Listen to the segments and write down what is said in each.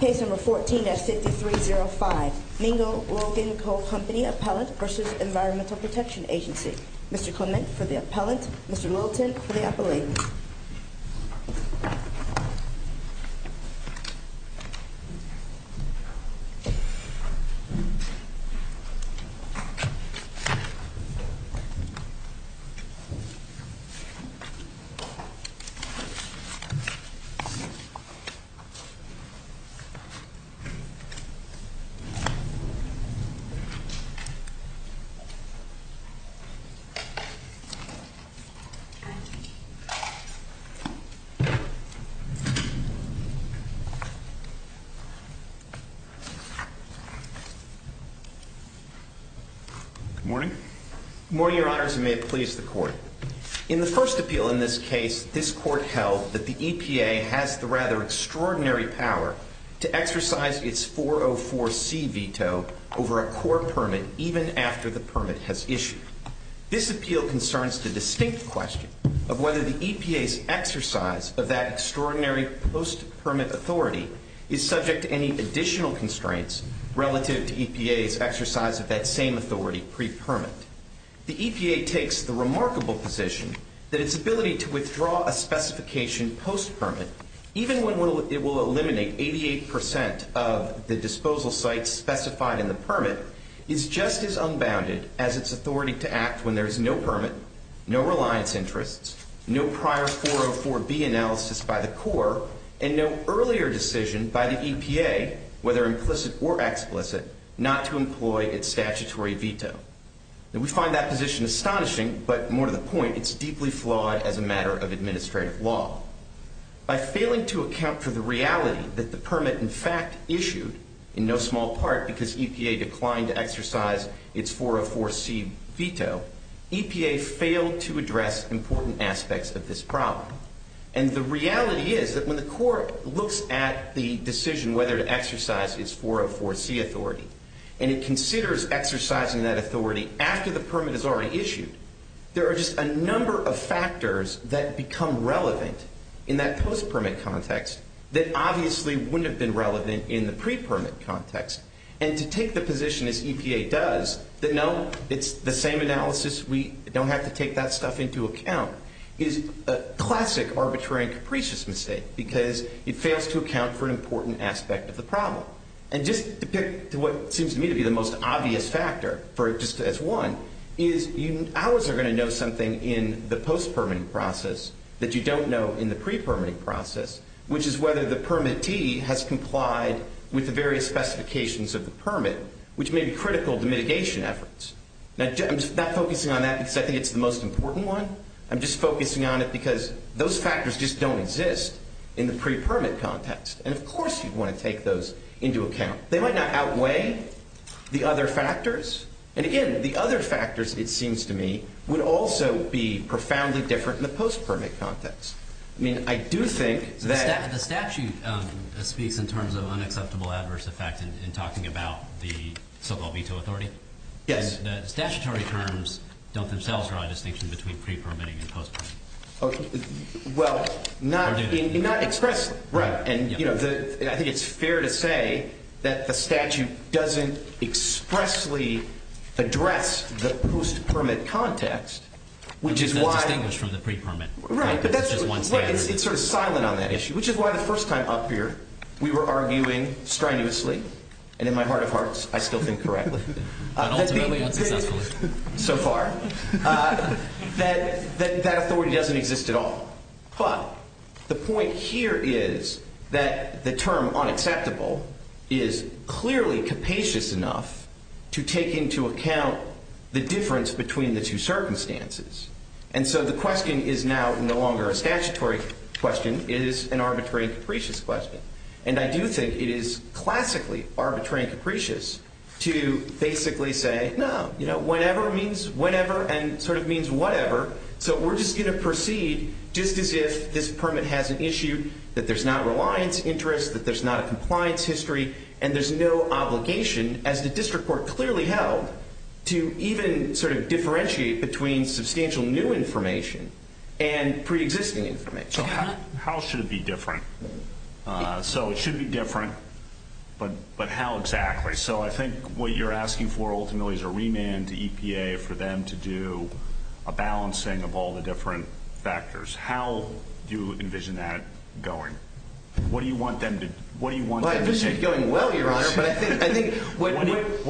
Case number 14-6305 Mingo Logan Coal Company Appellant v. Environmental Protection Agency Mr. Clement for the Appellant, Mr. Littleton for the Appellant Good morning. Good morning, Your Honors, and may it please the Court. In the first instance, the EPA has the rather extraordinary power to exercise its 404C veto over a core permit even after the permit has issued. This appeal concerns the distinct question of whether the EPA's exercise of that extraordinary post-permit authority is subject to any additional constraints relative to EPA's exercise of that same authority pre-permit. The EPA takes the remarkable position that its ability to withdraw a specification post-permit, even when it will eliminate 88% of the disposal sites specified in the permit, is just as unbounded as its authority to act when there is no permit, no reliance interests, no prior 404B analysis by the Corps, and no earlier decision by the EPA, whether implicit or explicit, not to employ its statutory veto. We find that position astonishing, but more to the point, it's deeply flawed as a matter of administrative law. By failing to account for the reality that the permit in fact issued, in no small part because EPA declined to exercise its 404C veto, EPA failed to address important aspects of this problem. And the reality is that when the Corps looks at the decision on whether to exercise its 404C authority, and it considers exercising that authority after the permit is already issued, there are just a number of factors that become relevant in that post-permit context that obviously wouldn't have been relevant in the pre-permit context. And to take the position as EPA does, that no, it's the same analysis, we don't have to take that stuff into account, is a classic arbitrary and capricious mistake because it fails to account for an important aspect of the problem. And just to pick to what seems to me to be the most obvious factor, just as one, is ours are going to know something in the post-permitting process that you don't know in the pre-permitting process, which is whether the permittee has complied with the various specifications of the permit, which may be critical to mitigation efforts. Now I'm not focusing on that because I think it's the most important one, I'm just focusing on it because those factors just don't exist in the pre-permit context. And of course you'd want to take those into account. They might not outweigh the other factors. And again, the other factors, it seems to me, would also be profoundly different in the post-permit context. I mean, I do think that The statute speaks in terms of unacceptable adverse effect in talking about the so-called veto authority. The statutory terms don't themselves draw a distinction between pre-permitting and post-permitting. Well, I think it's fair to say that the statute doesn't expressly address the post-permit context, which is why it's sort of silent on that issue, which is why the first time up here we were arguing strenuously, and in my heart of hearts I still think correctly, so far, that that authority doesn't exist at all. But the point here is that the term unacceptable is clearly capacious enough to take into account the difference between the two circumstances. And so the question is now no longer a statutory question, it is an arbitrary and capricious question. And I do think it is classically arbitrary and capricious to basically say, no, whenever means whenever and sort of means whatever, so we're just going to proceed just as if this permit has an issue, that there's not reliance interest, that there's not a compliance history, and there's no obligation, as the district court clearly held, to even sort of differentiate between substantial new information and pre-existing information. So how should it be different? So it should be different, but how exactly? So I think what you're asking for ultimately is a remand to EPA for them to do a balancing of all the different factors. How do you envision that going? What do you want them to do? Well, I envision it going well, Your Honor, but I think... What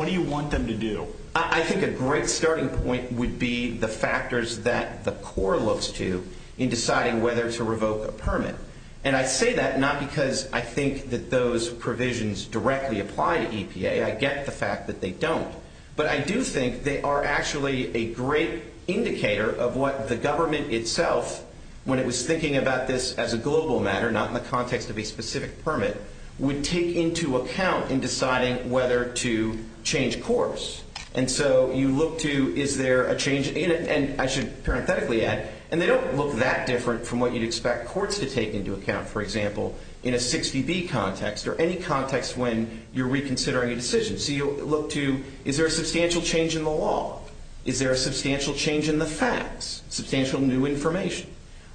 do you want them to do? I think a great starting point would be the factors that the court looks to in deciding whether to revoke a permit. And I say that not because I think that those provisions directly apply to EPA. I get the fact that they don't. But I do think they are actually a great indicator of what the government itself, when it was thinking about this as a global matter, not in the context of a specific permit, would take into account in deciding whether to change course. And so you look to, is there a change in it? And I should parenthetically add, and they don't look that different from what you'd expect courts to take into account, for example, in a 60B context or any context when you're reconsidering a decision. So you look to, is there a substantial change in the law? Is there a substantial change in the facts? Substantial new information?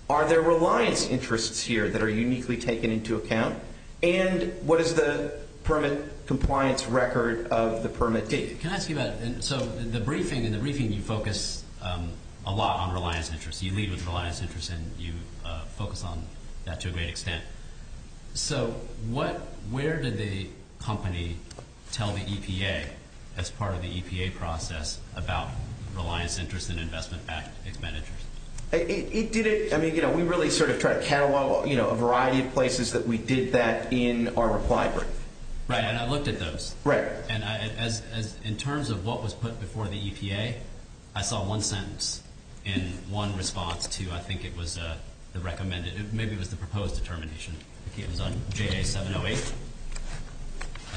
Are there reliance interests here that are uniquely taken into account? And what is the permit compliance record of the permit date? Can I ask you about... So in the briefing, you focus a lot on reliance interests. You lead with reliance interests, and you focus on that to a great extent. So where did the company tell the EPA, as part of the EPA process, about reliance interests and investment-backed expenditures? It did it... I mean, we really sort of try to catalog a variety of places that we did that in our reply brief. Right. And I looked at those. Right. And in terms of what was put before the EPA, I saw one sentence in one response to, I think it was the recommended... Maybe it was the proposed determination. I think it was on JA 708, I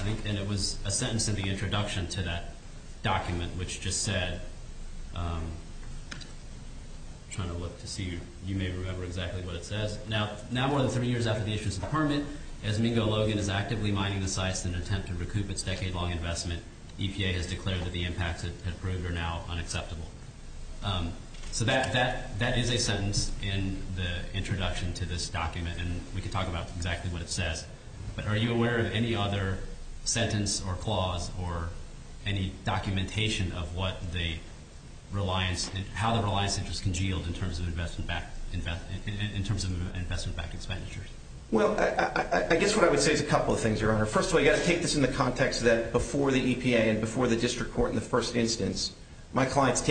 think. And it was a sentence in the introduction to that document which just said... I'm trying to look to see if you may remember exactly what it says. Now more than three years after the issuance of the permit, Esmingo Logan is actively mining the sites in an attempt to recoup its decade-long investment. EPA has declared that the impacts it had proved are now unacceptable. So that is a sentence in the introduction to this document, and we can talk about exactly what it says. But are you aware of any other sentence or clause or any documentation of what the reliance... How the reliance interests can yield in terms of investment-backed expenditures? Well, I guess what I would say is a couple of things, Your Honor. First of all, you've got to take this in the context that before the EPA and before the district court in the first instance, my client is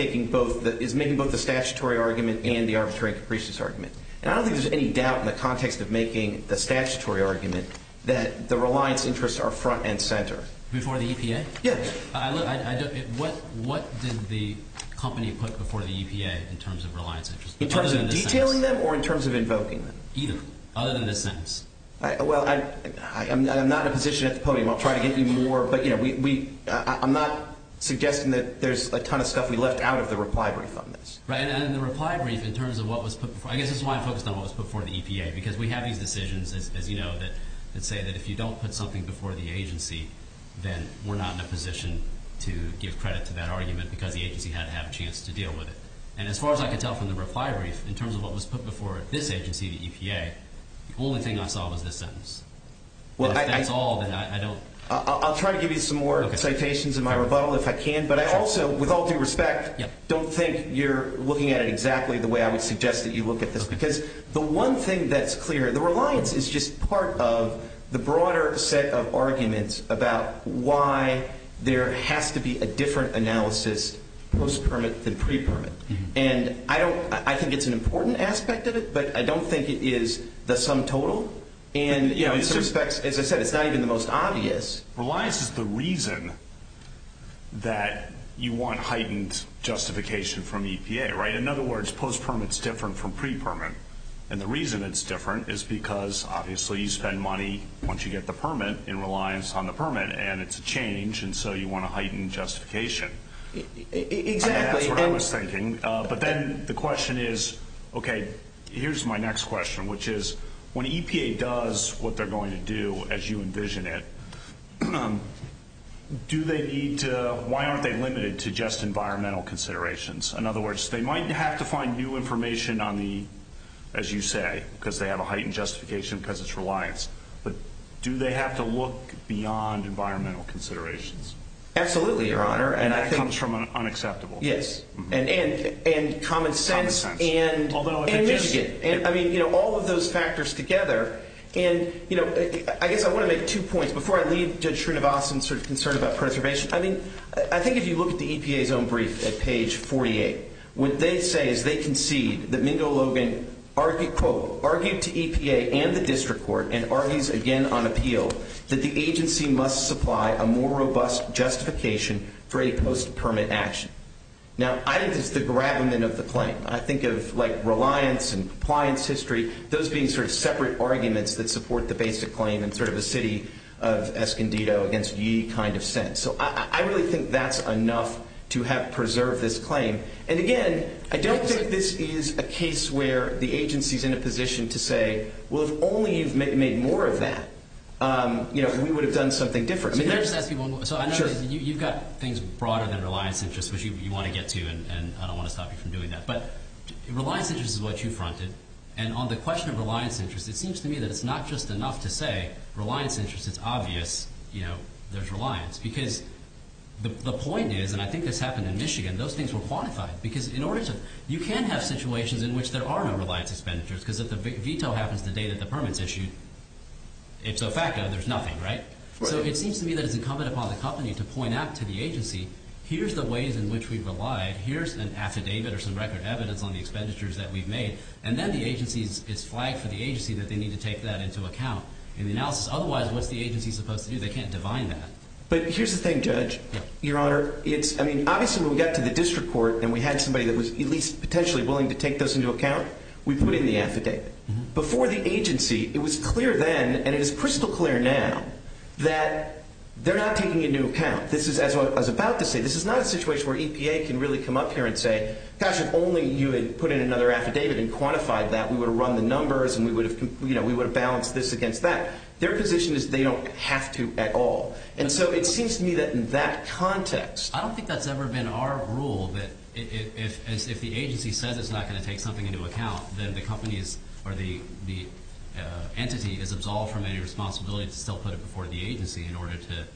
making both the statutory argument and the arbitrary capricious argument. And I don't think there's any doubt in the context of making the statutory argument that the reliance interests are front and center. Before the EPA? Yes. What did the company put before the EPA in terms of reliance interests? In terms of detailing them or in terms of invoking them? Either, other than this sentence. Well, I'm not in a position at the podium. I'll try to get you more, but I'm not suggesting that there's a ton of stuff we left out of the reply brief on this. Right. And in the reply brief, in terms of what was put before... I guess this is why I focused on what was put before the EPA, because we have these decisions, as you know, that say that if you don't put something before the agency, then we're not in a position to give credit to that argument because the agency had to have a chance to deal with it. And as far as I could tell from the reply brief, in terms of what was put before this agency, the EPA, the only thing I saw was this sentence. Well, I... If that's all, then I don't... I'll try to give you some more citations in my rebuttal if I can, but I also, with all due respect, don't think you're looking at it exactly the way I would suggest that you look at this, because the one thing that's clear, the reliance is just part of the broader set of arguments about why there has to be a different analysis post-permit than pre-permit. And I don't... I think it's an important aspect of it, but I don't think it is the sum total. And, you know, in some respects, as I said, it's not even the most obvious. Reliance is the reason that you want heightened justification from EPA, right? In other words, post-permit's different from pre-permit. And the reason it's different is because, obviously, you spend money, once you get the permit, in reliance on the permit, and it's a change, and so you want a heightened justification. Exactly. That's what I was thinking. But then the question is, okay, here's my next question, which is, when EPA does what they're going to do, as you envision it, do they need to... why aren't they limited to just environmental considerations? In other words, they might have to find new information on the, as you say, because they have a heightened justification because it's reliance, but do they have to look beyond environmental considerations? Absolutely, Your Honor, and I think... And common sense and... Although... I mean, you know, all of those factors together, and, you know, I guess I want to make two points before I leave Judge Srinivasan's sort of concern about preservation. I mean, I think if you look at the EPA's own brief at page 48, what they say is they concede that Mingo Logan argued, quote, argued to EPA and the district court and argues again on appeal that the agency must supply a more robust justification for a post-permit action. Now, I think this is the gravamen of the claim. I think of, like, reliance and compliance history, those being sort of separate arguments that support the basic claim in sort of a city of Escondido against ye kind of sense. So I really think that's enough to have preserved this claim. And again, I don't think this is a case where the agency's in a position to say, well, if only you've made more of that, you know, we would have done something different. I mean, there's... Can I just ask you one more? Sure. So I know that you've got things broader than reliance interest, which you want to get to, and I don't want to stop you from doing that. But reliance interest is what you fronted. And on the question of reliance interest, it seems to me that it's not just enough to say reliance interest, it's obvious, you know, there's reliance. Because the point is, and I think this happened in Michigan, those things were quantified. Because in order to... You can have situations in which there are no reliance expenditures, because if the veto happens the day that the permit's issued, it's a fact that there's nothing, right? Right. So it seems to me that it's incumbent upon the company to point out to the agency, here's the ways in which we've relied, here's an affidavit or some record evidence on the expenditures that we've made, and then the agency's... It's flagged for the agency that they need to take that into account in the analysis. Otherwise, what's the agency supposed to do? They can't divine that. But here's the thing, Judge. Yeah. Your Honor, it's... I mean, obviously when we got to the district court and we had somebody that was at least potentially willing to take those into account, we put in the affidavit. Before the agency, it was clear then, and it is crystal clear now, that they're not taking it into account. This is, as I was about to say, this is not a situation where EPA can really come up here and say, gosh, if only you had put in another affidavit and quantified that, we would have run the numbers and we would have balanced this against that. Their position is they don't have to at all. And so it seems to me that in that context... If the agency says it's not going to take something into account, then the company is... Or the entity is absolved from any responsibility to still put it before the agency in order to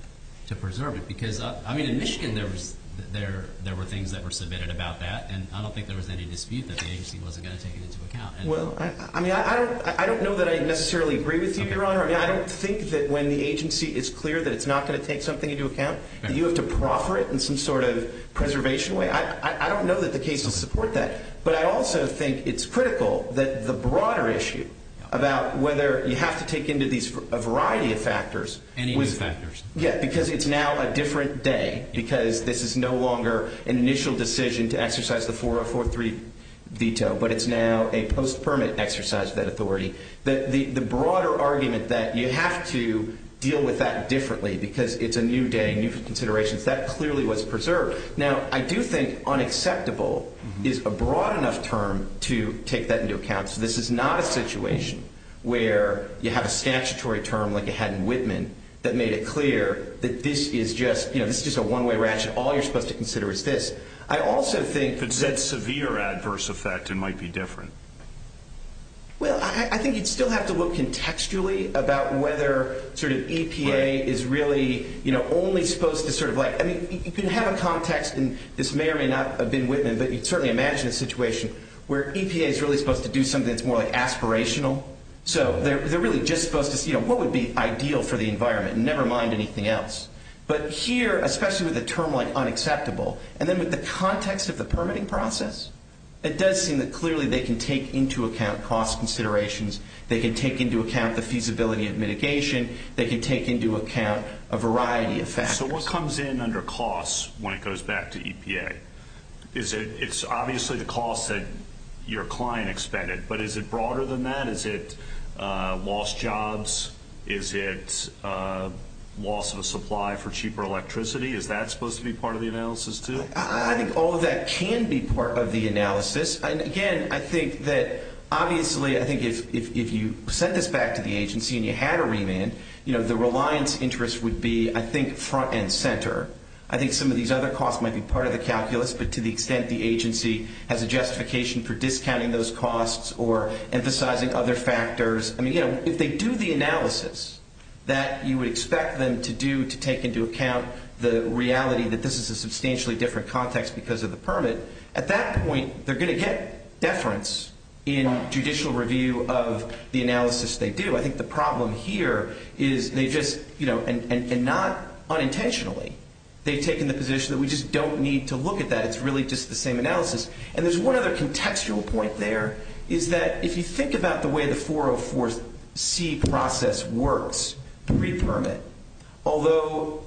preserve it. Because, I mean, in Michigan there were things that were submitted about that, and I don't think there was any dispute that the agency wasn't going to take it into account. Well, I mean, I don't know that I necessarily agree with you, Your Honor. I mean, I don't think that when the agency is clear that it's not going to take something into account, that you have to proffer it in some sort of preservation way. I don't know that the case will support that. But I also think it's critical that the broader issue about whether you have to take into these a variety of factors... Any of the factors. Yeah, because it's now a different day, because this is no longer an initial decision to exercise the 4043 veto, but it's now a post-permit exercise of that authority. The broader argument that you have to deal with that differently because it's a new day, new considerations, that clearly was preserved. Now, I do think unacceptable is a broad enough term to take that into account. So this is not a situation where you have a statutory term like you had in Whitman that made it clear that this is just a one-way ratchet. All you're supposed to consider is this. I also think... If it's that severe adverse effect, it might be different. Well, I think you'd still have to look contextually about whether EPA is really only supposed to sort of like... I mean, you can have a context, and this may or may not have been Whitman, but you'd certainly imagine a situation where EPA is really supposed to do something that's more like aspirational. So they're really just supposed to see what would be ideal for the environment, never mind anything else. But here, especially with a term like unacceptable, and then with the context of the permitting process, it does seem that clearly they can take into account cost considerations, they can take into account the feasibility of mitigation, they can take into account a variety of factors. So what comes in under cost when it goes back to EPA? It's obviously the cost that your client expended, but is it broader than that? Is it lost jobs? Is it loss of a supply for cheaper electricity? Is that supposed to be part of the analysis too? I think all of that can be part of the analysis. And again, I think that obviously, I think if you sent this back to the agency and you had a remand, the reliance interest would be, I think, front and center. I think some of these other costs might be part of the calculus, but to the extent the agency has a justification for discounting those costs or emphasizing other factors, I mean, you know, if they do the analysis that you would expect them to do to take into account the reality that this is a substantially different context because of the permit, at that point, they're going to get deference in judicial review of the analysis they do. I think the problem here is they just, you know, and not unintentionally, they've taken the position that we just don't need to look at that. It's really just the same analysis. And there's one other contextual point there, is that if you think about the way the 404C process works, the read permit, although,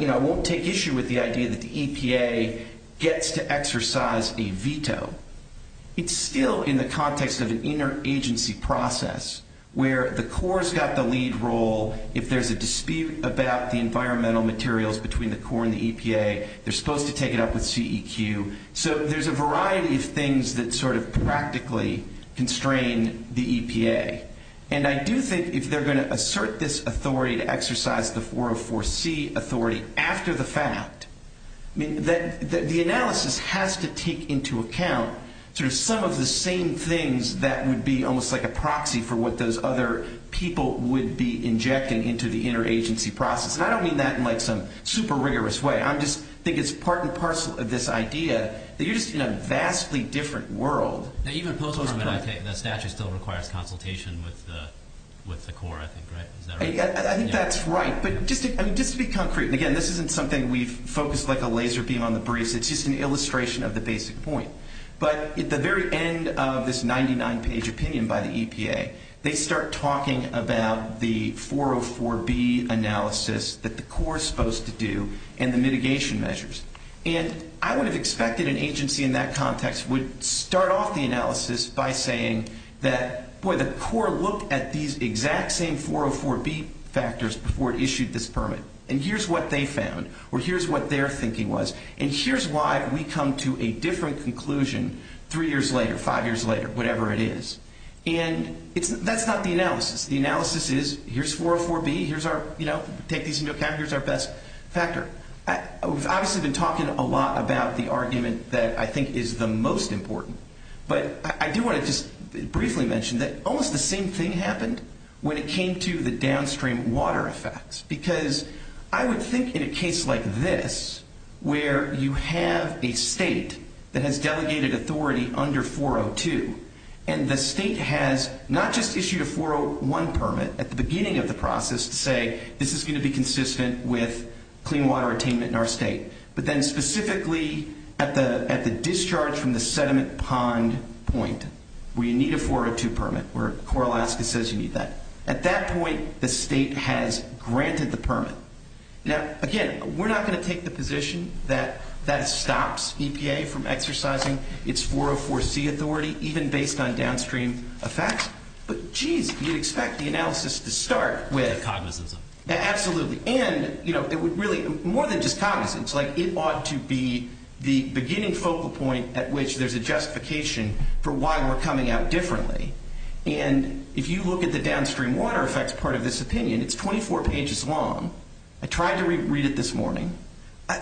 you know, I won't take issue with the idea that the EPA gets to exercise a veto, it's still in the context of an interagency process where the Corps has got the lead role. If there's a dispute about the environmental materials between the Corps and the EPA, they're supposed to take it up with CEQ. So there's a variety of things that sort of practically constrain the EPA. And I do think if they're going to assert this authority to exercise the 404C authority after the fact, I mean, the analysis has to take into account sort of some of the same things that would be almost like a proxy for what those other people would be injecting into the interagency process. And I don't mean that in, like, some super rigorous way. I just think it's part and parcel of this idea that you're just in a vastly different world. Now, even post-treatment, I think, the statute still requires consultation with the Corps, I think, right? Is that right? I think that's right. But just to be concrete, and again, this isn't something we've focused like a laser beam on the briefs. It's just an illustration of the basic point. But at the very end of this 99-page opinion by the EPA, they start talking about the 404B analysis that the Corps is supposed to do and the mitigation measures. And I would have expected an agency in that context would start off the analysis by saying that, boy, the Corps looked at these exact same 404B factors before it issued this permit, and here's what they found, or here's what their thinking was, and here's why we come to a different conclusion three years later, five years later, whatever it is. And that's not the analysis. The analysis is, here's 404B, here's our, you know, take these into account, here's our best factor. We've obviously been talking a lot about the argument that I think is the most important. But I do want to just briefly mention that almost the same thing happened when it came to the downstream water effects. Because I would think in a case like this, where you have a state that has delegated authority under 402, and the state has not just issued a 401 permit at the beginning of the process to say this is going to be consistent with clean water attainment in our state, but then specifically at the discharge from the sediment pond point, where you need a 402 permit, where Corps Alaska says you need that. At that point, the state has granted the permit. Now, again, we're not going to take the position that that stops EPA from exercising its 404C authority, even based on downstream effects. But, jeez, you'd expect the analysis to start with... Cognizance of it. Absolutely. And, you know, it would really, more than just cognizance, like, it ought to be the beginning focal point at which there's a justification for why we're coming out differently. And if you look at the downstream water effects part of this opinion, it's 24 pages long. I tried to re-read it this morning.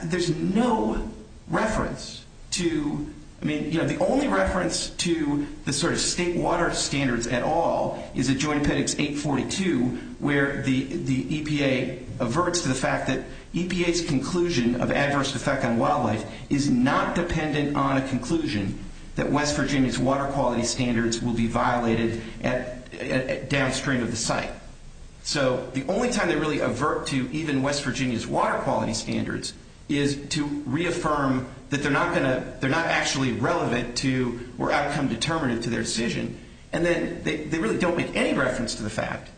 There's no reference to... I mean, you know, the only reference to the sort of state water standards at all is at Joint Appendix 842, where the EPA averts to the fact that EPA's conclusion of adverse effect on wildlife is not dependent on a conclusion that West Virginia's water quality standards will be violated downstream of the site. So, the only time they really avert to even West Virginia's water quality standards is to reaffirm that they're not actually relevant to, or outcome any reference to the fact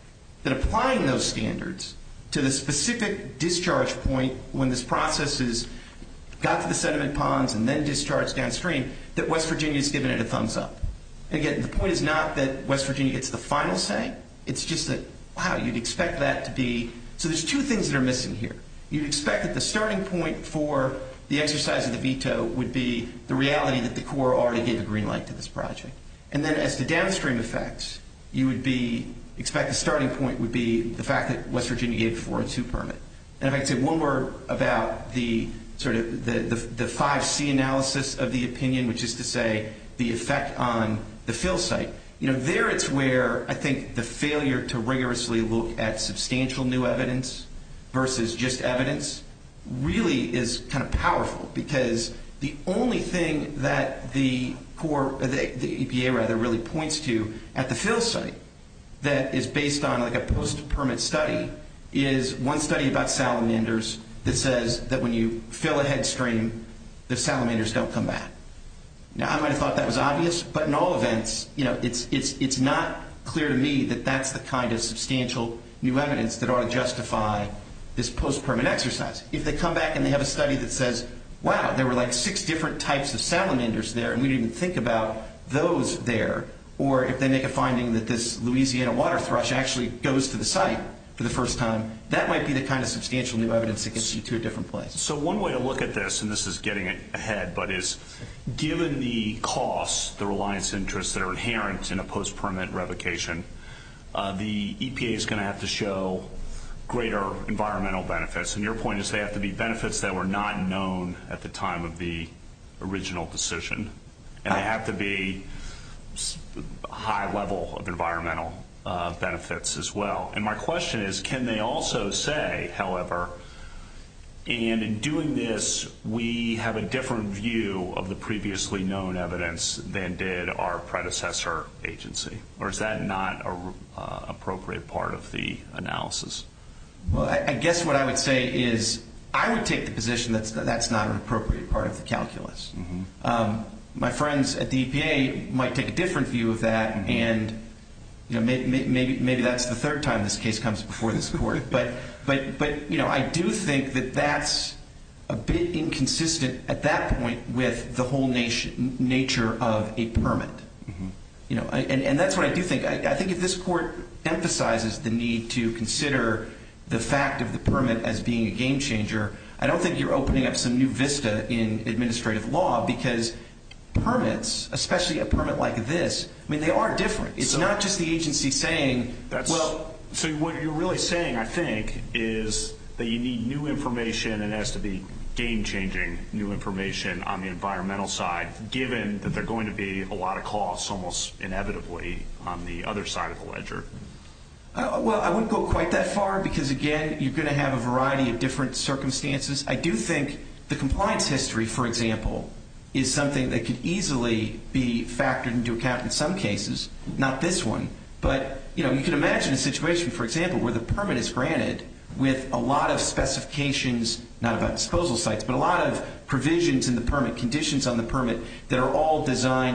that applying those standards to the specific discharge point when this process got to the sediment ponds and then discharged downstream, that West Virginia's given it a thumbs up. And, again, the point is not that West Virginia gets the final say. It's just that, wow, you'd expect that to be... So, there's two things that are missing here. You'd expect that the starting point for the exercise of the veto would be the reality that the Corps already gave a green light to this project. And then, as to downstream effects, you would expect the starting point would be the fact that West Virginia gave a 402 permit. And if I could say one word about the sort of the 5C analysis of the opinion, which is to say the effect on the fill site, there it's where I think the failure to rigorously look at substantial new evidence versus just evidence really is kind of powerful, because the only thing that the EPA really points to at the fill site that is based on a post-permit study is one study about salamanders that says that when you fill a headstream, the salamanders don't come back. Now, I might have thought that was obvious, but in all events, it's not clear to me that that's the kind of substantial new evidence that ought to justify this post-permit exercise. If they come back and they have a study that says, wow, there were like six different types of salamanders there, and we didn't even think about those there, or if they make a finding that this Louisiana water thrush actually goes to the site for the first time, that might be the kind of substantial new evidence that gets you to a different place. So one way to look at this, and this is getting ahead, but is given the costs, the reliance interests that are inherent in a post-permit revocation, the EPA is going to have to show greater environmental benefits. And your point is they have to be benefits that were not known at the time of the original decision, and they have to be high level of environmental benefits as well. And my question is, can they also say, however, and in doing this, we have a different view of the previously known evidence than did our predecessor agency, or is that not an appropriate part of the analysis? Well, I guess what I would say is I would take the position that that's not an appropriate part of the calculus. My friends at the EPA might take a different view of that, and maybe that's the third time this case comes before this court. But I do think that that's a bit That's what I do think. I think if this court emphasizes the need to consider the fact of the permit as being a game changer, I don't think you're opening up some new vista in administrative law, because permits, especially a permit like this, I mean, they are different. It's not just the agency saying that's Well, so what you're really saying, I think, is that you need new information, and it has to be game changing new information on the environmental side, given that there are going to be a lot of costs, almost inevitably, on the other side of the ledger. Well, I wouldn't go quite that far, because, again, you're going to have a variety of different circumstances. I do think the compliance history, for example, is something that could easily be factored into account in some cases, not this one. But you can imagine a situation, for example, where the permit is granted with a lot of specifications, not about disposal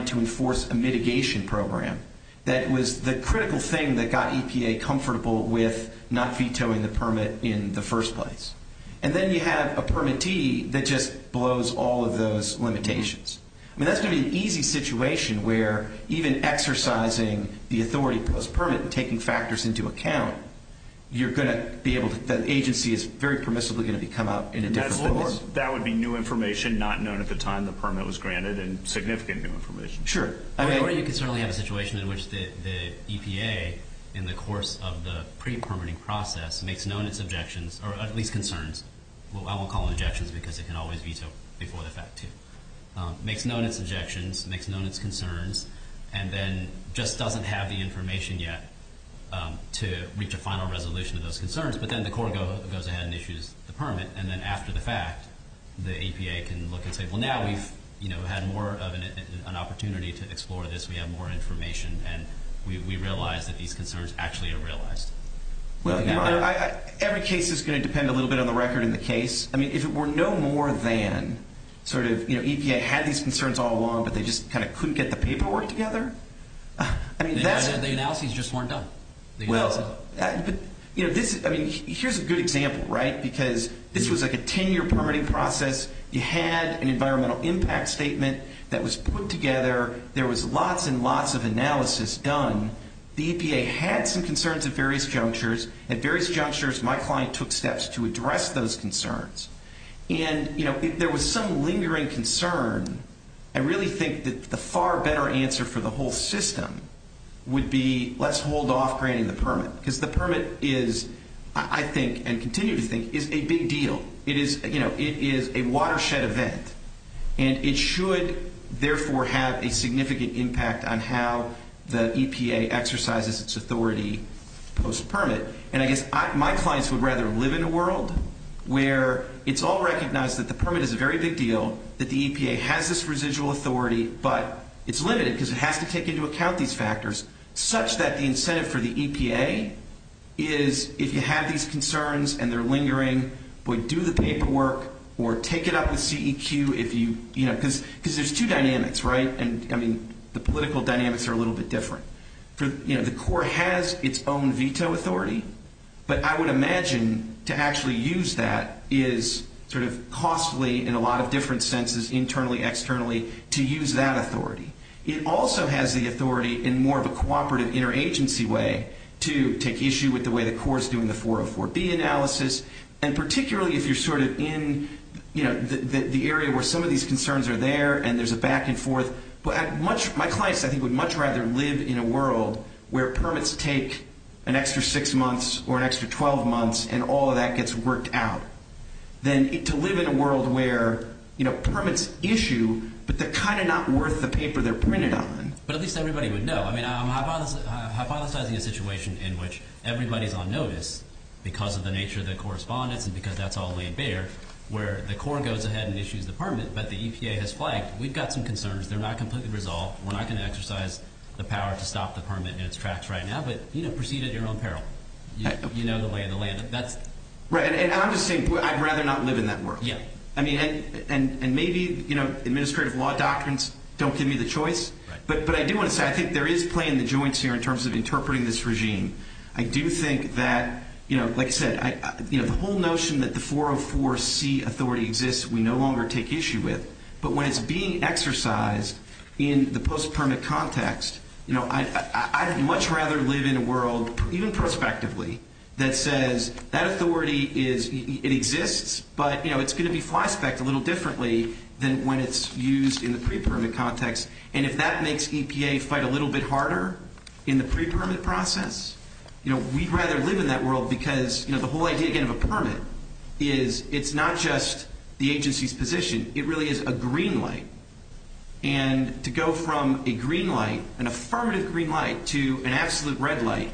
to enforce a mitigation program that was the critical thing that got EPA comfortable with not vetoing the permit in the first place. And then you have a permittee that just blows all of those limitations. I mean, that's going to be an easy situation where even exercising the authority post-permit and taking factors into account, you're going to be able to, the agency is very permissibly going to come out in a different voice. Of course, that would be new information not known at the time the permit was granted, and significant new information. Sure. I mean, or you could certainly have a situation in which the EPA, in the course of the pre-permitting process, makes known its objections, or at least concerns. I won't call them objections, because it can always veto before the fact, too. Makes known its objections, makes known its concerns, and then just doesn't have the information yet to reach a final resolution of those concerns. But then the court goes ahead and issues the permit, and in fact, the EPA can look and say, well, now we've had more of an opportunity to explore this. We have more information, and we realize that these concerns actually are realized. Well, every case is going to depend a little bit on the record in the case. I mean, if it were no more than sort of EPA had these concerns all along, but they just kind of couldn't get the paperwork together, I mean, that's... The analyses just weren't done. Well, you know, this, I mean, here's a good example, right? Because this was like a 10-year permitting process. You had an environmental impact statement that was put together. There was lots and lots of analysis done. The EPA had some concerns at various junctures. At various junctures, my client took steps to address those concerns. And, you know, if there was some lingering concern, I really think that the far better answer for the whole system would be let's hold off granting the permit. Because the permit is, I think, and continue to think, is a big deal. It is, you know, it is a watershed event. And it should therefore have a significant impact on how the EPA exercises its authority post-permit. And I guess my clients would rather live in a world where it's all recognized that the permit is a very big deal, that the EPA has this residual authority, but it's limited because it has to take into account these factors, such that the incentive for the EPA is if you have these concerns and they're lingering, boy, do the paperwork or take it up with CEQ if you, you know, because there's two dynamics, right? And, I mean, the political dynamics are a little bit different. For, you know, the Corps has its own veto authority, but I would imagine to actually use that is sort of costly in a lot of different senses, internally, externally, to use that authority. It also has the authority in more of a cooperative interagency way to take issue with the way the Corps is doing the 404B analysis. And particularly if you're sort of in, you know, the area where some of these concerns are there and there's a back and forth. But my clients, I think, would much rather live in a world where permits take an extra six months or an extra 12 months and all of that issue, but they're kind of not worth the paper they're printed on. But at least everybody would know. I mean, I'm hypothesizing a situation in which everybody's on notice because of the nature of the correspondence and because that's all laid bare, where the Corps goes ahead and issues the permit, but the EPA has flagged, we've got some concerns, they're not completely resolved, we're not going to exercise the power to stop the permit in its tracks right now, but, you know, proceed at your own peril. You know the way the land, that's... Right, and I'm just saying, I'd rather not live in that world. Yeah. I mean, and maybe, you know, administrative law doctrines don't give me the choice. Right. But I do want to say, I think there is playing the joints here in terms of interpreting this regime. I do think that, you know, like I said, you know, the whole notion that the 404C authority exists we no longer take issue with, but when it's being exercised in the post-permit context, you know, I'd much rather live in a world, even prospectively, that says that authority is, it exists, but, you know, it's going to be flyspecked a little differently than when it's used in the pre-permit context, and if that makes EPA fight a little bit harder in the pre-permit process, you know, we'd rather live in that world because, you know, the whole idea, again, of a permit is it's not just the agency's position, it really is a green light, and to go from a green light, an affirmative green light, to an absolute red light,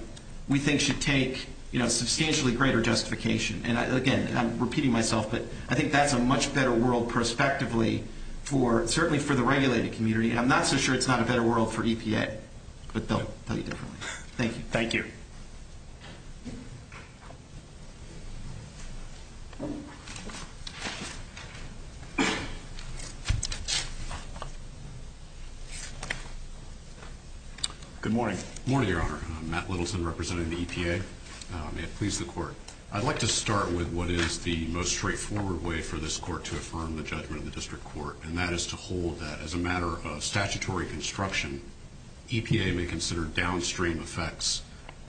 we think should take, you know, substantially greater justification, and again, I'm repeating myself, but I think that's a much better world prospectively for, certainly for the regulated community, and I'm not so sure it's not a better world for EPA, but they'll tell you differently. Thank you. Thank you. Good morning. Good morning, Your Honor. Matt Littleton representing the EPA. May it please the Court. I'd like to start with what is the most straightforward way for this Court to affirm the judgment of the District Court, and that is to hold that as a matter of statutory construction, EPA may consider downstream effects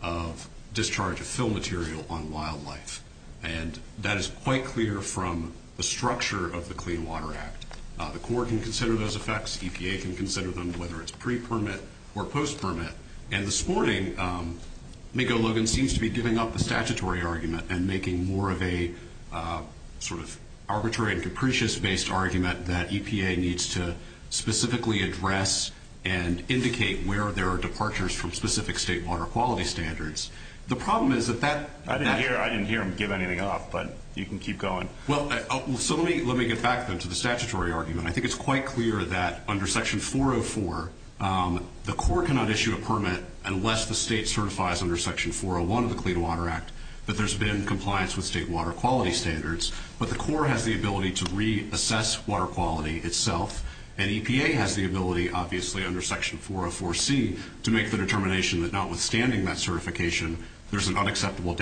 of discharge of fill material on wildlife, and that is quite clear from the structure of the Clean Water Act. The Court can consider those effects, EPA can consider them, whether it's pre-permit or post-permit, and the sporting may go, Logan, seems to be giving up the statutory argument and making more of a sort of arbitrary and indicate where there are departures from specific state water quality standards. The problem is that that... I didn't hear him give anything off, but you can keep going. Well, so let me get back then to the statutory argument. I think it's quite clear that under Section 404, the Court cannot issue a permit unless the state certifies under Section 401 of the Clean Water Act that there's been compliance with state water quality standards, but the Court has the ability to reassess water quality itself, and EPA has the ability, obviously, under Section 404C to make the determination that notwithstanding that certification, there's an unacceptable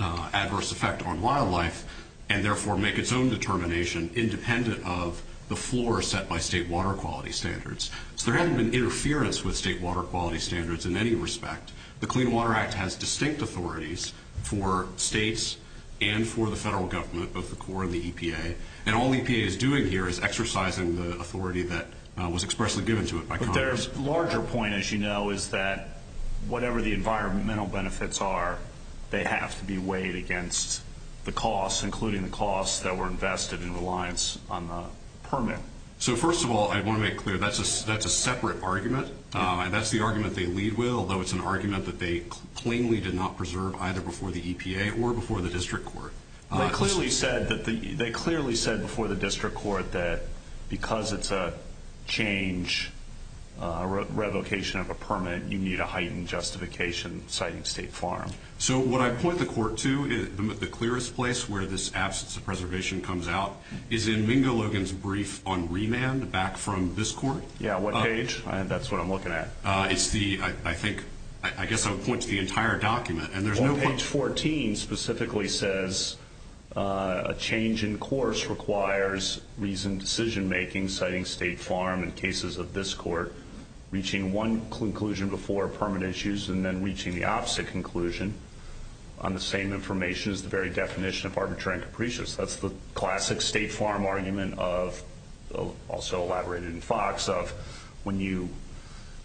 adverse effect on wildlife, and therefore make its own determination independent of the floor set by state water quality standards. So there hasn't been interference with state water quality standards in any respect. The Clean Water Act has distinct authorities for states and for the federal government, both the Corps and the EPA, and all EPA is doing here is exercising the authority that was expressly given to it by Congress. But their larger point, as you know, is that whatever the environmental benefits are, they have to be weighed against the costs, including the costs that were invested in reliance on the permit. So first of all, I want to make clear, that's a separate argument, and that's the argument they lead with, although it's an argument that they plainly did not preserve either before the EPA or before the District Court. They clearly said before the District Court that because it's a change, a revocation of a permit, you need a heightened justification citing State Farm. So what I point the Court to, the clearest place where this absence of preservation comes out, is in Mingo Logan's brief on remand back from this Court. Yeah, what page? That's what I'm looking at. It's the, I think, I guess I would point to the entire document. Well, page 14 specifically says, a change in course requires reasoned decision making citing State Farm in cases of this Court, reaching one conclusion before permit issues and then reaching the opposite conclusion on the same information as the very definition of arbitrary and capricious. That's the classic State Farm argument of, also elaborated in Fox, of when you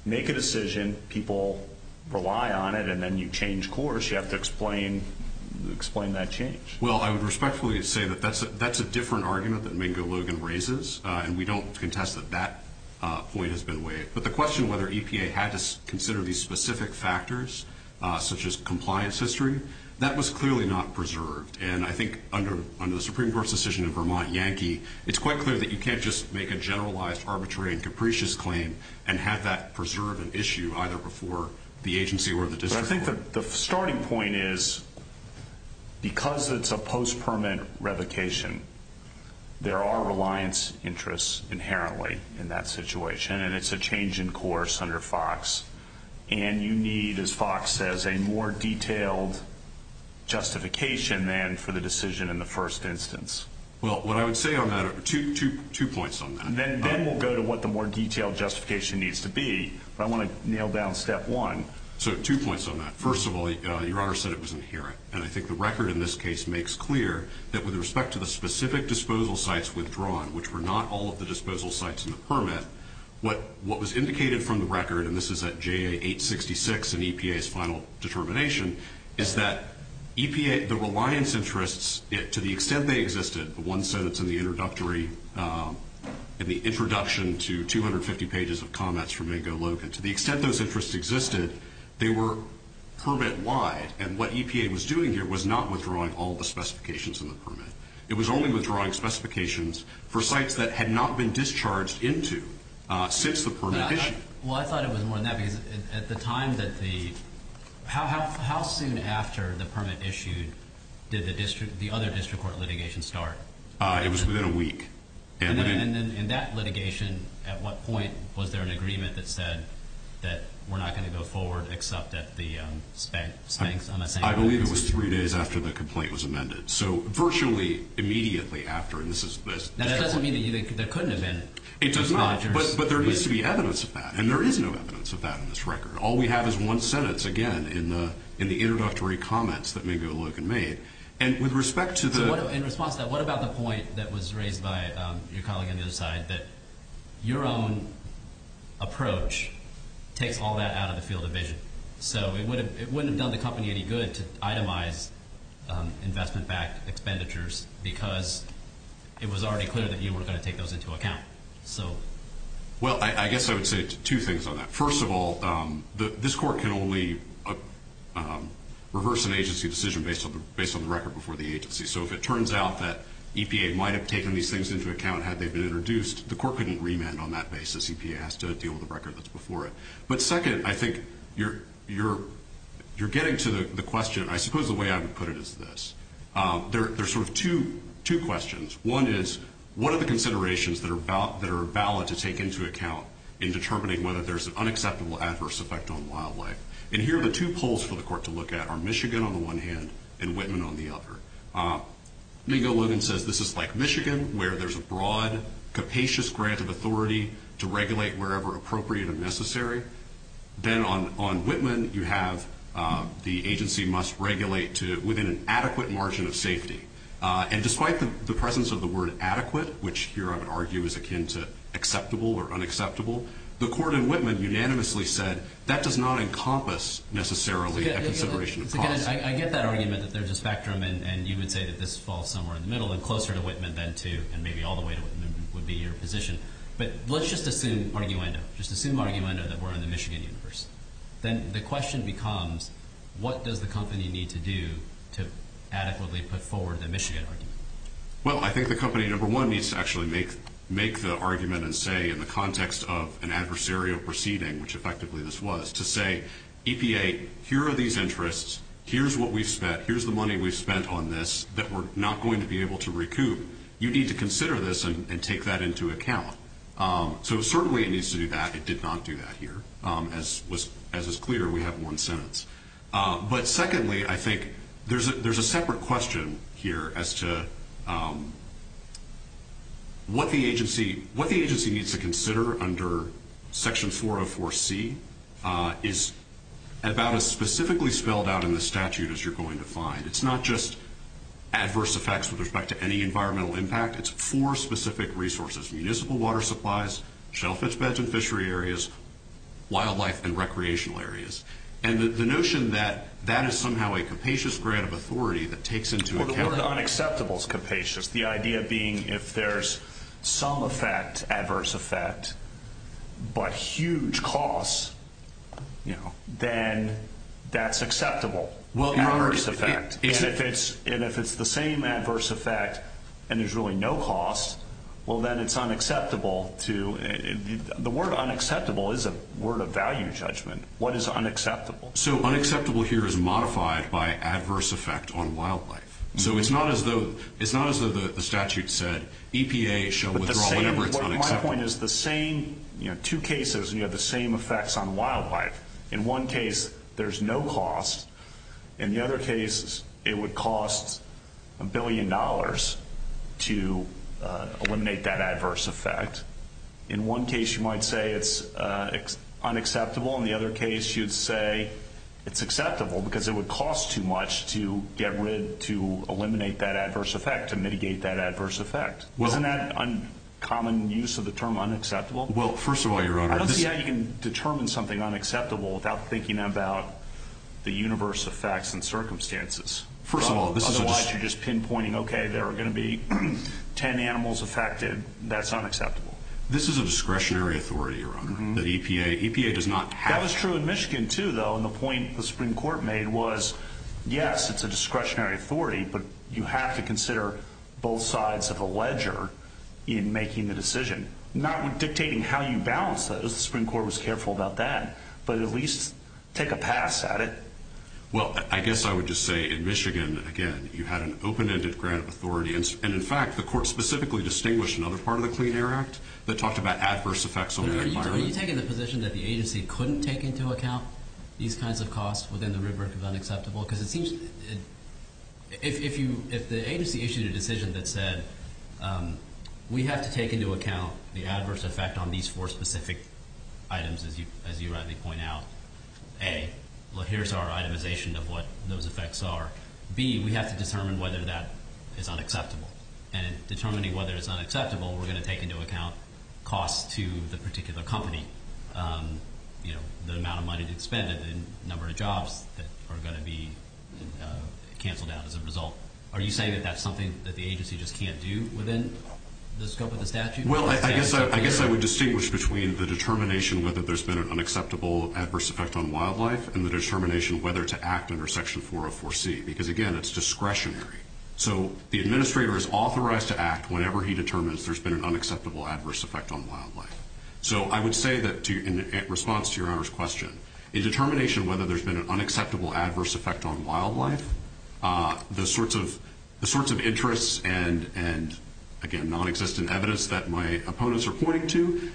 make a change in course, you have to explain that change. Well, I would respectfully say that that's a different argument that Mingo Logan raises, and we don't contest that that point has been waived. But the question whether EPA had to consider these specific factors, such as compliance history, that was clearly not preserved. And I think under the Supreme Court's decision in Vermont Yankee, it's quite clear that you can't just make a generalized arbitrary and capricious claim and have that preserve an issue either before the agency or the District Court. I think the starting point is, because it's a post-permit revocation, there are reliance interests inherently in that situation, and it's a change in course under Fox. And you need, as Fox says, a more detailed justification than for the decision in the first instance. Well, what I would say on that, two points on that. Then we'll go to what the more detailed justification needs to be. But I want to nail down step one. So two points on that. First of all, Your Honor said it was inherent. And I think the record in this case makes clear that with respect to the specific disposal sites withdrawn, which were not all of the disposal sites in the permit, what was indicated from the record, and this is at JA 866 in EPA's final determination, is that the reliance interests, to the extent they existed, the one sentence in the introductory, in the introduction to 250 pages of comments from Ingo Logan, to the extent those interests existed, they were permit-wide, and what EPA was doing here was not withdrawing all the specifications in the permit. It was only withdrawing specifications for sites that had not been discharged into since the permit issue. Well, I thought it was more than that, because at the time that the, how soon after the permit issued did the other District Court litigation start? It was within a week. And then in that litigation, at what point was there an agreement that said that we're not going to go forward except at the spank, spanks on the same day? I believe it was three days after the complaint was amended. So virtually immediately after, and this is, this. That doesn't mean that there couldn't have been. It does not. But there needs to be evidence of that. And there is no evidence of that in this record. All we have is one sentence, again, in the introductory comments that Ingo Logan made. And with respect to the. In response to that, what about the point that was raised by your colleague on the other side, that your own approach takes all that out of the field of vision? So it wouldn't have done the company any good to itemize investment-backed expenditures because it was already clear that you weren't going to take those into account. So. Well, I guess I would say two things on that. First of all, this Court can only reverse an agency decision based on the record before the agency. So if it turns out that EPA might have taken these things into account had they been introduced, the Court couldn't remand on that basis. EPA has to deal with the record that's before it. But second, I think you're getting to the question. I suppose the way I would put it is this. There's sort of two questions. One is, what are the considerations that are valid to take into account in determining whether there's an unacceptable adverse effect on wildlife? And here are the two polls for the Court to look at are Michigan on the one hand and Whitman on the other. Mingo Logan says this is like Michigan where there's a broad, capacious grant of authority to regulate wherever appropriate and necessary. Then on Whitman, you have the agency must regulate within an adequate margin of safety. And despite the presence of the word adequate, which here I would argue is akin to acceptable or unacceptable, the Court in Whitman unanimously said that does not encompass necessarily a consideration of cost. I get that argument that there's a spectrum. And you would say that this falls somewhere in the middle and closer to Whitman than to and maybe all the way to Whitman would be your position. But let's just assume arguendo, just assume arguendo that we're in the Michigan universe. Then the question becomes, what does the company need to do to adequately put forward the Michigan argument? Well, I think the company, number one, needs to actually make the argument and say in the context of an adversarial proceeding, which effectively this was, to say, EPA, here are these interests. Here's what we've spent. Here's the money we've spent on this that we're not going to be able to recoup. You need to consider this and take that into account. So certainly it needs to do that. It did not do that here. As is clear, we have one sentence. But secondly, I think there's a separate question here as to what the agency needs to consider section 404C is about as specifically spelled out in the statute as you're going to find. It's not just adverse effects with respect to any environmental impact. It's four specific resources, municipal water supplies, shellfish beds and fishery areas, wildlife and recreational areas. And the notion that that is somehow a capacious grant of authority that takes into account The word unacceptable is capacious. The idea being if there's some effect, adverse effect, but huge cost, then that's acceptable. Adverse effect. And if it's the same adverse effect and there's really no cost, well then it's unacceptable. The word unacceptable is a word of value judgment. What is unacceptable? So unacceptable here is modified by adverse effect on wildlife. So it's not as though the statute said EPA shall withdraw whatever is unacceptable. My point is the same two cases, you have the same effects on wildlife. In one case, there's no cost. In the other case, it would cost a billion dollars to eliminate that adverse effect. In one case, you might say it's unacceptable. In the other case, you'd say it's acceptable because it would cost too much to get rid, to eliminate that adverse effect, to mitigate that adverse effect. Isn't that a common use of the term unacceptable? Well, first of all, Your Honor. I don't see how you can determine something unacceptable without thinking about the universe of facts and circumstances. First of all, this is just. Otherwise, you're just pinpointing, okay, there are going to be 10 animals affected. That's unacceptable. This is a discretionary authority, Your Honor. EPA does not have. That was true in Michigan, too, though. And the point the Supreme Court made was, yes, it's a discretionary authority, but you have to consider both sides of a ledger in making the decision. Not dictating how you balance those. The Supreme Court was careful about that. But at least take a pass at it. Well, I guess I would just say in Michigan, again, you had an open-ended grant of authority. And, in fact, the court specifically distinguished another part of the Clean Air Act that talked about adverse effects on the environment. Are you taking the position that the agency couldn't take into account these kinds of costs within the rubric of unacceptable? Because it seems if the agency issued a decision that said, we have to take into account the adverse effect on these four specific items, as you rightly point out, A, here's our itemization of what those effects are. B, we have to determine whether that is unacceptable. And in determining whether it's unacceptable, we're going to take into account costs to the particular company. You know, the amount of money that's spent and the number of jobs that are going to be canceled out as a result. Are you saying that that's something that the agency just can't do within the scope of the statute? Well, I guess I would distinguish between the determination whether there's been an unacceptable adverse effect on wildlife and the determination whether to act under Section 404C. Because, again, it's discretionary. So the administrator is authorized to act whenever he determines there's been an unacceptable adverse effect on wildlife. So I would say that in response to Your Honor's question, a determination whether there's been an unacceptable adverse effect on wildlife, the sorts of interests and, again, non-existent evidence that my opponents are pointing to,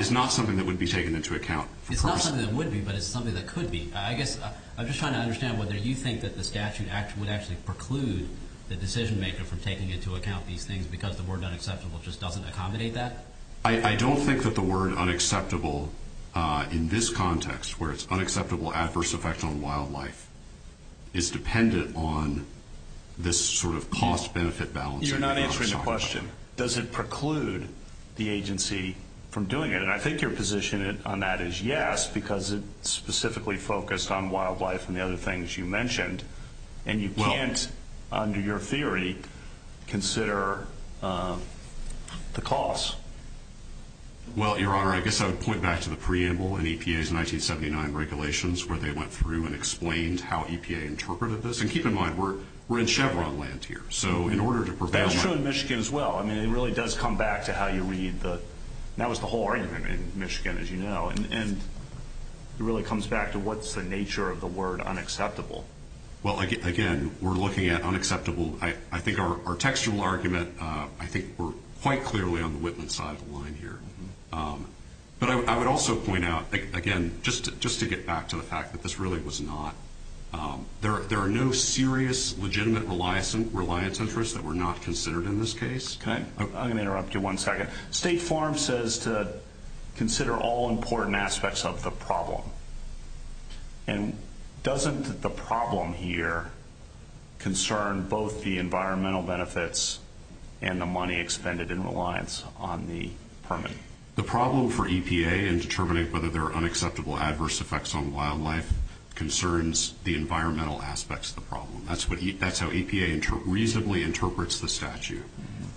is not something that would be taken into account. It's not something that would be, but it's something that could be. I guess I'm just trying to understand whether you think that the statute would actually preclude the decision-maker from taking into account these things because the word unacceptable just doesn't accommodate that? I don't think that the word unacceptable in this context, where it's unacceptable adverse effect on wildlife, is dependent on this sort of cost-benefit balance. You're not answering the question. Does it preclude the agency from doing it? And I think your position on that is yes, because it's specifically focused on wildlife and the other things you mentioned. And you can't, under your theory, consider the cost. Well, Your Honor, I guess I would point back to the preamble in EPA's 1979 regulations, where they went through and explained how EPA interpreted this. And keep in mind, we're in Chevron land here. So in order to prevent— That was true in Michigan as well. I mean, it really does come back to how you read the—that was the whole argument in Michigan, as you know. And it really comes back to what's the nature of the word unacceptable. Well, again, we're looking at unacceptable. I think our textual argument, I think, were quite clearly on the Whitman side of the line here. But I would also point out, again, just to get back to the fact that this really was not— I'm going to interrupt you one second. State Farm says to consider all important aspects of the problem. And doesn't the problem here concern both the environmental benefits and the money expended in reliance on the permit? The problem for EPA in determining whether there are unacceptable adverse effects on wildlife concerns the environmental aspects of the problem. That's how EPA reasonably interprets the statute.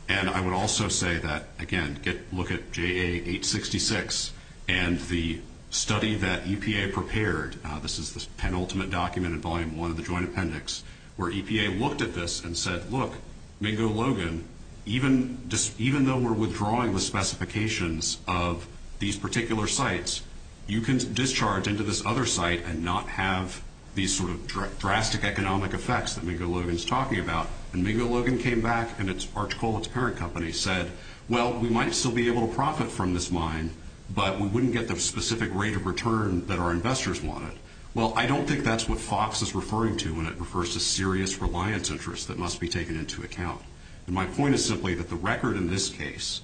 And I would also say that, again, look at JA 866 and the study that EPA prepared. This is the penultimate document in Volume 1 of the Joint Appendix, where EPA looked at this and said, Look, Mingo Logan, even though we're withdrawing the specifications of these particular sites, you can discharge into this other site and not have these sort of drastic economic effects that Mingo Logan's talking about. And Mingo Logan came back and its parent company said, Well, we might still be able to profit from this mine, but we wouldn't get the specific rate of return that our investors wanted. Well, I don't think that's what FOX is referring to when it refers to serious reliance interests that must be taken into account. And my point is simply that the record in this case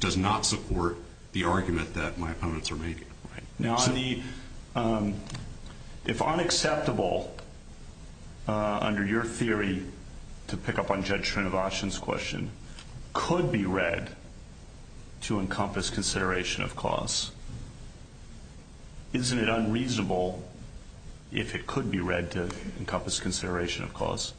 does not support the argument that my opponents are making. Now, if unacceptable, under your theory, to pick up on Judge Trinovacian's question, could be read to encompass consideration of cause. Isn't it unreasonable if it could be read to encompass consideration of cause?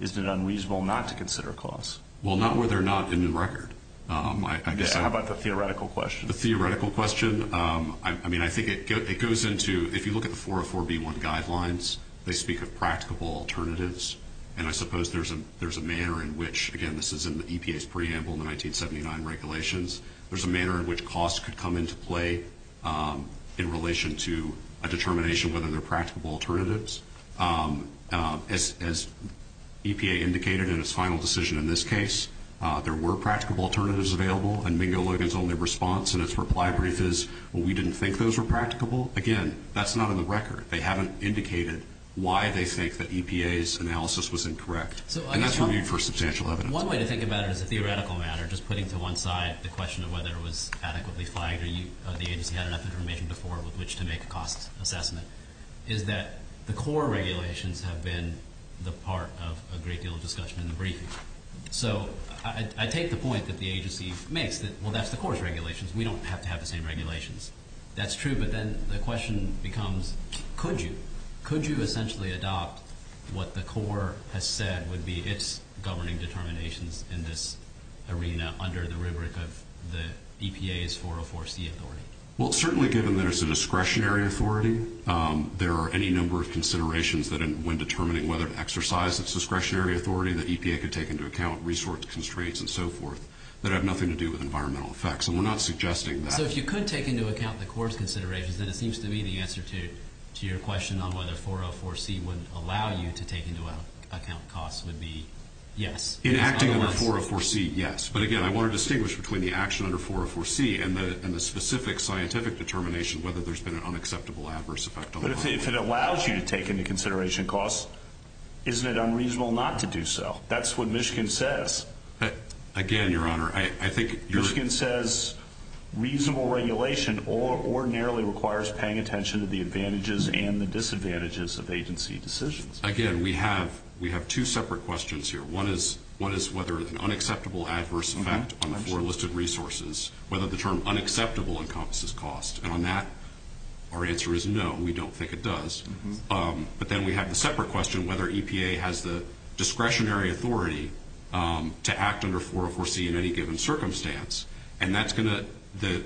Isn't it unreasonable not to consider cause? Well, not where they're not in the record. How about the theoretical question? The theoretical question, I mean, I think it goes into, if you look at the 404B1 guidelines, they speak of practicable alternatives. And I suppose there's a manner in which, again, this is in the EPA's preamble in the 1979 regulations, there's a manner in which cost could come into play in relation to a determination whether they're practicable alternatives. As EPA indicated in its final decision in this case, there were practicable alternatives available, and Mingo Logan's only response in its reply brief is, well, we didn't think those were practicable. Again, that's not in the record. They haven't indicated why they think that EPA's analysis was incorrect. And that's reviewed for substantial evidence. One way to think about it as a theoretical matter, just putting to one side the question of whether it was adequately flagged or the agency had enough information before with which to make a cost assessment, is that the core regulations have been the part of a great deal of discussion in the briefing. So I take the point that the agency makes that, well, that's the core's regulations. We don't have to have the same regulations. That's true, but then the question becomes, could you? Could you essentially adopt what the core has said would be its governing determinations in this arena under the rubric of the EPA's 404C authority? Well, certainly given that it's a discretionary authority, there are any number of considerations when determining whether to exercise its discretionary authority that EPA could take into account, resource constraints, and so forth, that have nothing to do with environmental effects. And we're not suggesting that. So if you could take into account the core's considerations, then it seems to me the answer to your question on whether 404C would allow you to take into account costs would be yes. In acting under 404C, yes. But, again, I want to distinguish between the action under 404C and the specific scientific determination whether there's been an unacceptable adverse effect. But if it allows you to take into consideration costs, isn't it unreasonable not to do so? That's what Michigan says. Again, Your Honor, I think you're – Michigan says reasonable regulation ordinarily requires paying attention to the advantages and the disadvantages of agency decisions. Again, we have two separate questions here. One is whether an unacceptable adverse effect on the four listed resources, whether the term unacceptable encompasses cost. And on that, our answer is no. We don't think it does. But then we have the separate question whether EPA has the discretionary authority to act under 404C in any given circumstance. And that's going to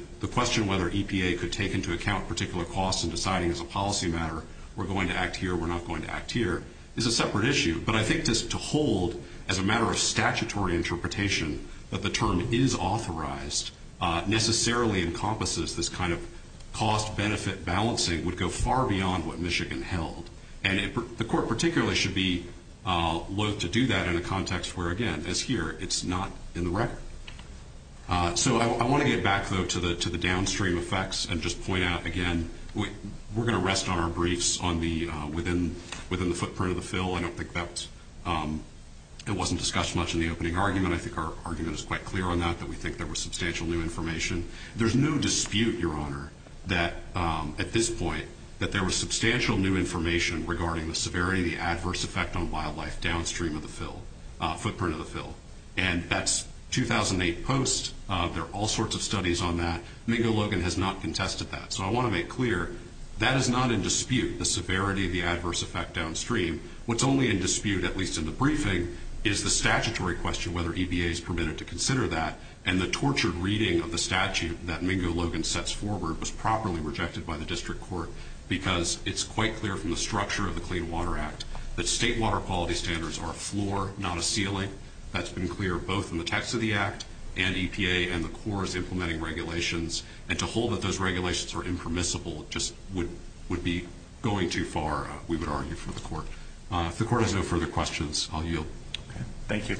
– the question whether EPA could take into account particular costs in deciding as a policy matter we're going to act here, we're not going to act here, is a separate issue. But I think just to hold, as a matter of statutory interpretation, that the term is authorized necessarily encompasses this kind of cost-benefit balancing would go far beyond what Michigan held. And the court particularly should be loath to do that in a context where, again, as here, it's not in the record. So I want to get back, though, to the downstream effects and just point out, again, we're going to rest on our briefs on the – within the footprint of the fill. I don't think that was – it wasn't discussed much in the opening argument. I think our argument is quite clear on that, that we think there was substantial new information. There's no dispute, Your Honor, that at this point that there was substantial new information regarding the severity of the adverse effect on wildlife downstream of the fill – footprint of the fill. And that's 2008 post. There are all sorts of studies on that. Mingo Logan has not contested that. So I want to make clear that is not in dispute, the severity of the adverse effect downstream. What's only in dispute, at least in the briefing, is the statutory question, whether EBA is permitted to consider that. And the tortured reading of the statute that Mingo Logan sets forward was properly rejected by the district court because it's quite clear from the structure of the Clean Water Act that state water quality standards are a floor, not a ceiling. That's been clear both in the text of the act and EPA and the Corps is implementing regulations. And to hold that those regulations are impermissible just would be going too far, we would argue, for the court. If the court has no further questions, I'll yield. Thank you.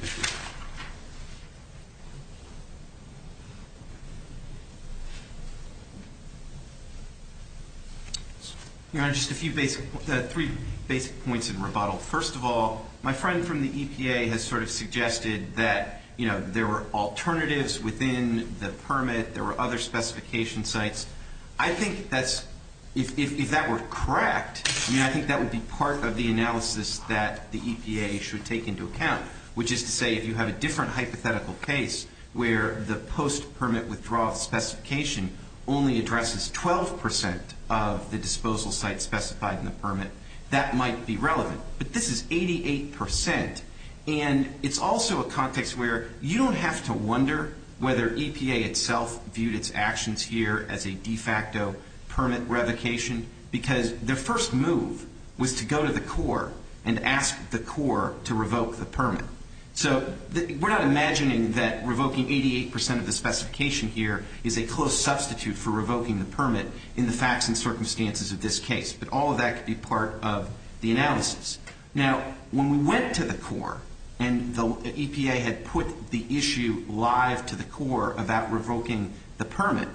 Your Honor, just a few basic – three basic points in rebuttal. First of all, my friend from the EPA has sort of suggested that, you know, there were alternatives within the permit. There were other specification sites. I think that's – if that were correct, I mean, I think that would be part of the analysis that the EPA should take into account, which is to say if you have a different hypothetical case where the post-permit withdrawal specification only addresses 12 percent of the disposal sites specified in the permit, that might be relevant. But this is 88 percent. And it's also a context where you don't have to wonder whether EPA itself viewed its actions here as a de facto permit revocation because their first move was to go to the Corps and ask the Corps to revoke the permit. So we're not imagining that revoking 88 percent of the specification here is a close substitute for revoking the permit in the facts and circumstances of this case. But all of that could be part of the analysis. Now, when we went to the Corps and the EPA had put the issue live to the Corps about revoking the permit,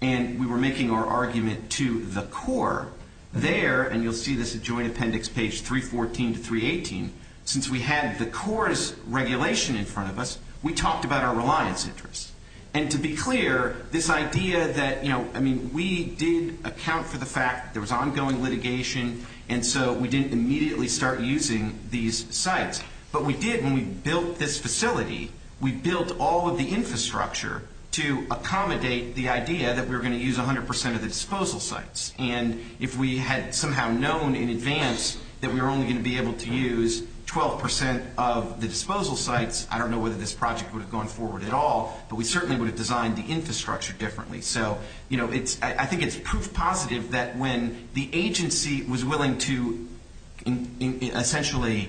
and we were making our argument to the Corps there, and you'll see this at Joint Appendix page 314 to 318, since we had the Corps' regulation in front of us, we talked about our reliance interests. And to be clear, this idea that, you know, I mean, we did account for the fact there was ongoing litigation, and so we didn't immediately start using these sites. But we did when we built this facility. We built all of the infrastructure to accommodate the idea that we were going to use 100 percent of the disposal sites. And if we had somehow known in advance that we were only going to be able to use 12 percent of the disposal sites, I don't know whether this project would have gone forward at all, but we certainly would have designed the infrastructure differently. So, you know, I think it's proof positive that when the agency was willing to essentially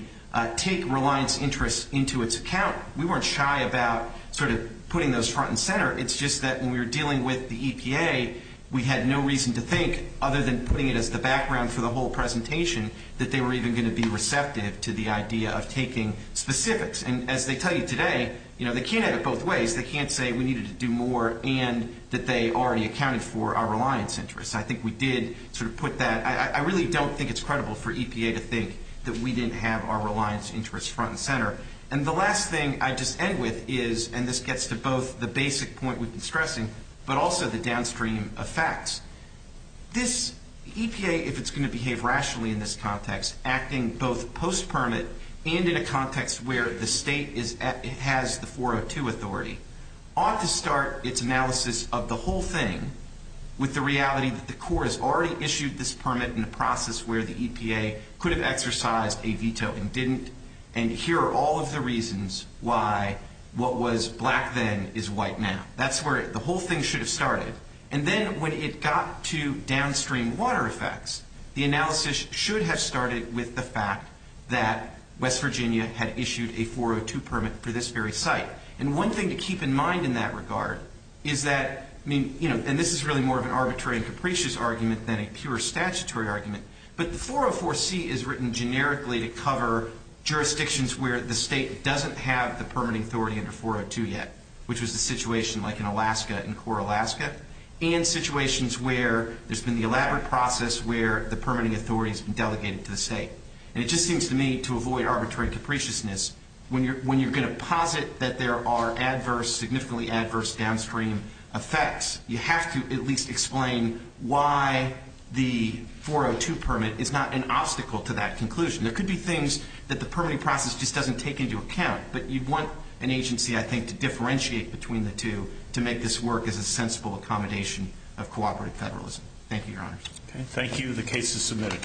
take reliance interests into its account, we weren't shy about sort of putting those front and center. It's just that when we were dealing with the EPA, we had no reason to think, other than putting it as the background for the whole presentation, that they were even going to be receptive to the idea of taking specifics. And as they tell you today, you know, they can't have it both ways. They can't say we needed to do more and that they already accounted for our reliance interests. I think we did sort of put that. I really don't think it's credible for EPA to think that we didn't have our reliance interests front and center. And the last thing I'd just end with is, and this gets to both the basic point we've been stressing, but also the downstream effects. This EPA, if it's going to behave rationally in this context, acting both post-permit and in a context where the state has the 402 authority, ought to start its analysis of the whole thing with the reality that the Corps has already issued this permit in a process where the EPA could have exercised a veto and didn't, and here are all of the reasons why what was black then is white now. That's where the whole thing should have started. And then when it got to downstream water effects, the analysis should have started with the fact that West Virginia had issued a 402 permit for this very site. And one thing to keep in mind in that regard is that, I mean, you know, and this is really more of an arbitrary and capricious argument than a pure statutory argument, but the 404C is written generically to cover jurisdictions where the state doesn't have the permitting authority under 402 yet, which was the situation like in Alaska, in Corps Alaska, and situations where there's been the elaborate process where the permitting authority has been delegated to the state. And it just seems to me, to avoid arbitrary capriciousness, when you're going to posit that there are adverse, significantly adverse downstream effects, you have to at least explain why the 402 permit is not an obstacle to that conclusion. There could be things that the permitting process just doesn't take into account, but you'd want an agency, I think, to differentiate between the two to make this work as a sensible accommodation of cooperative federalism. Thank you, Your Honor. Thank you. The case is submitted.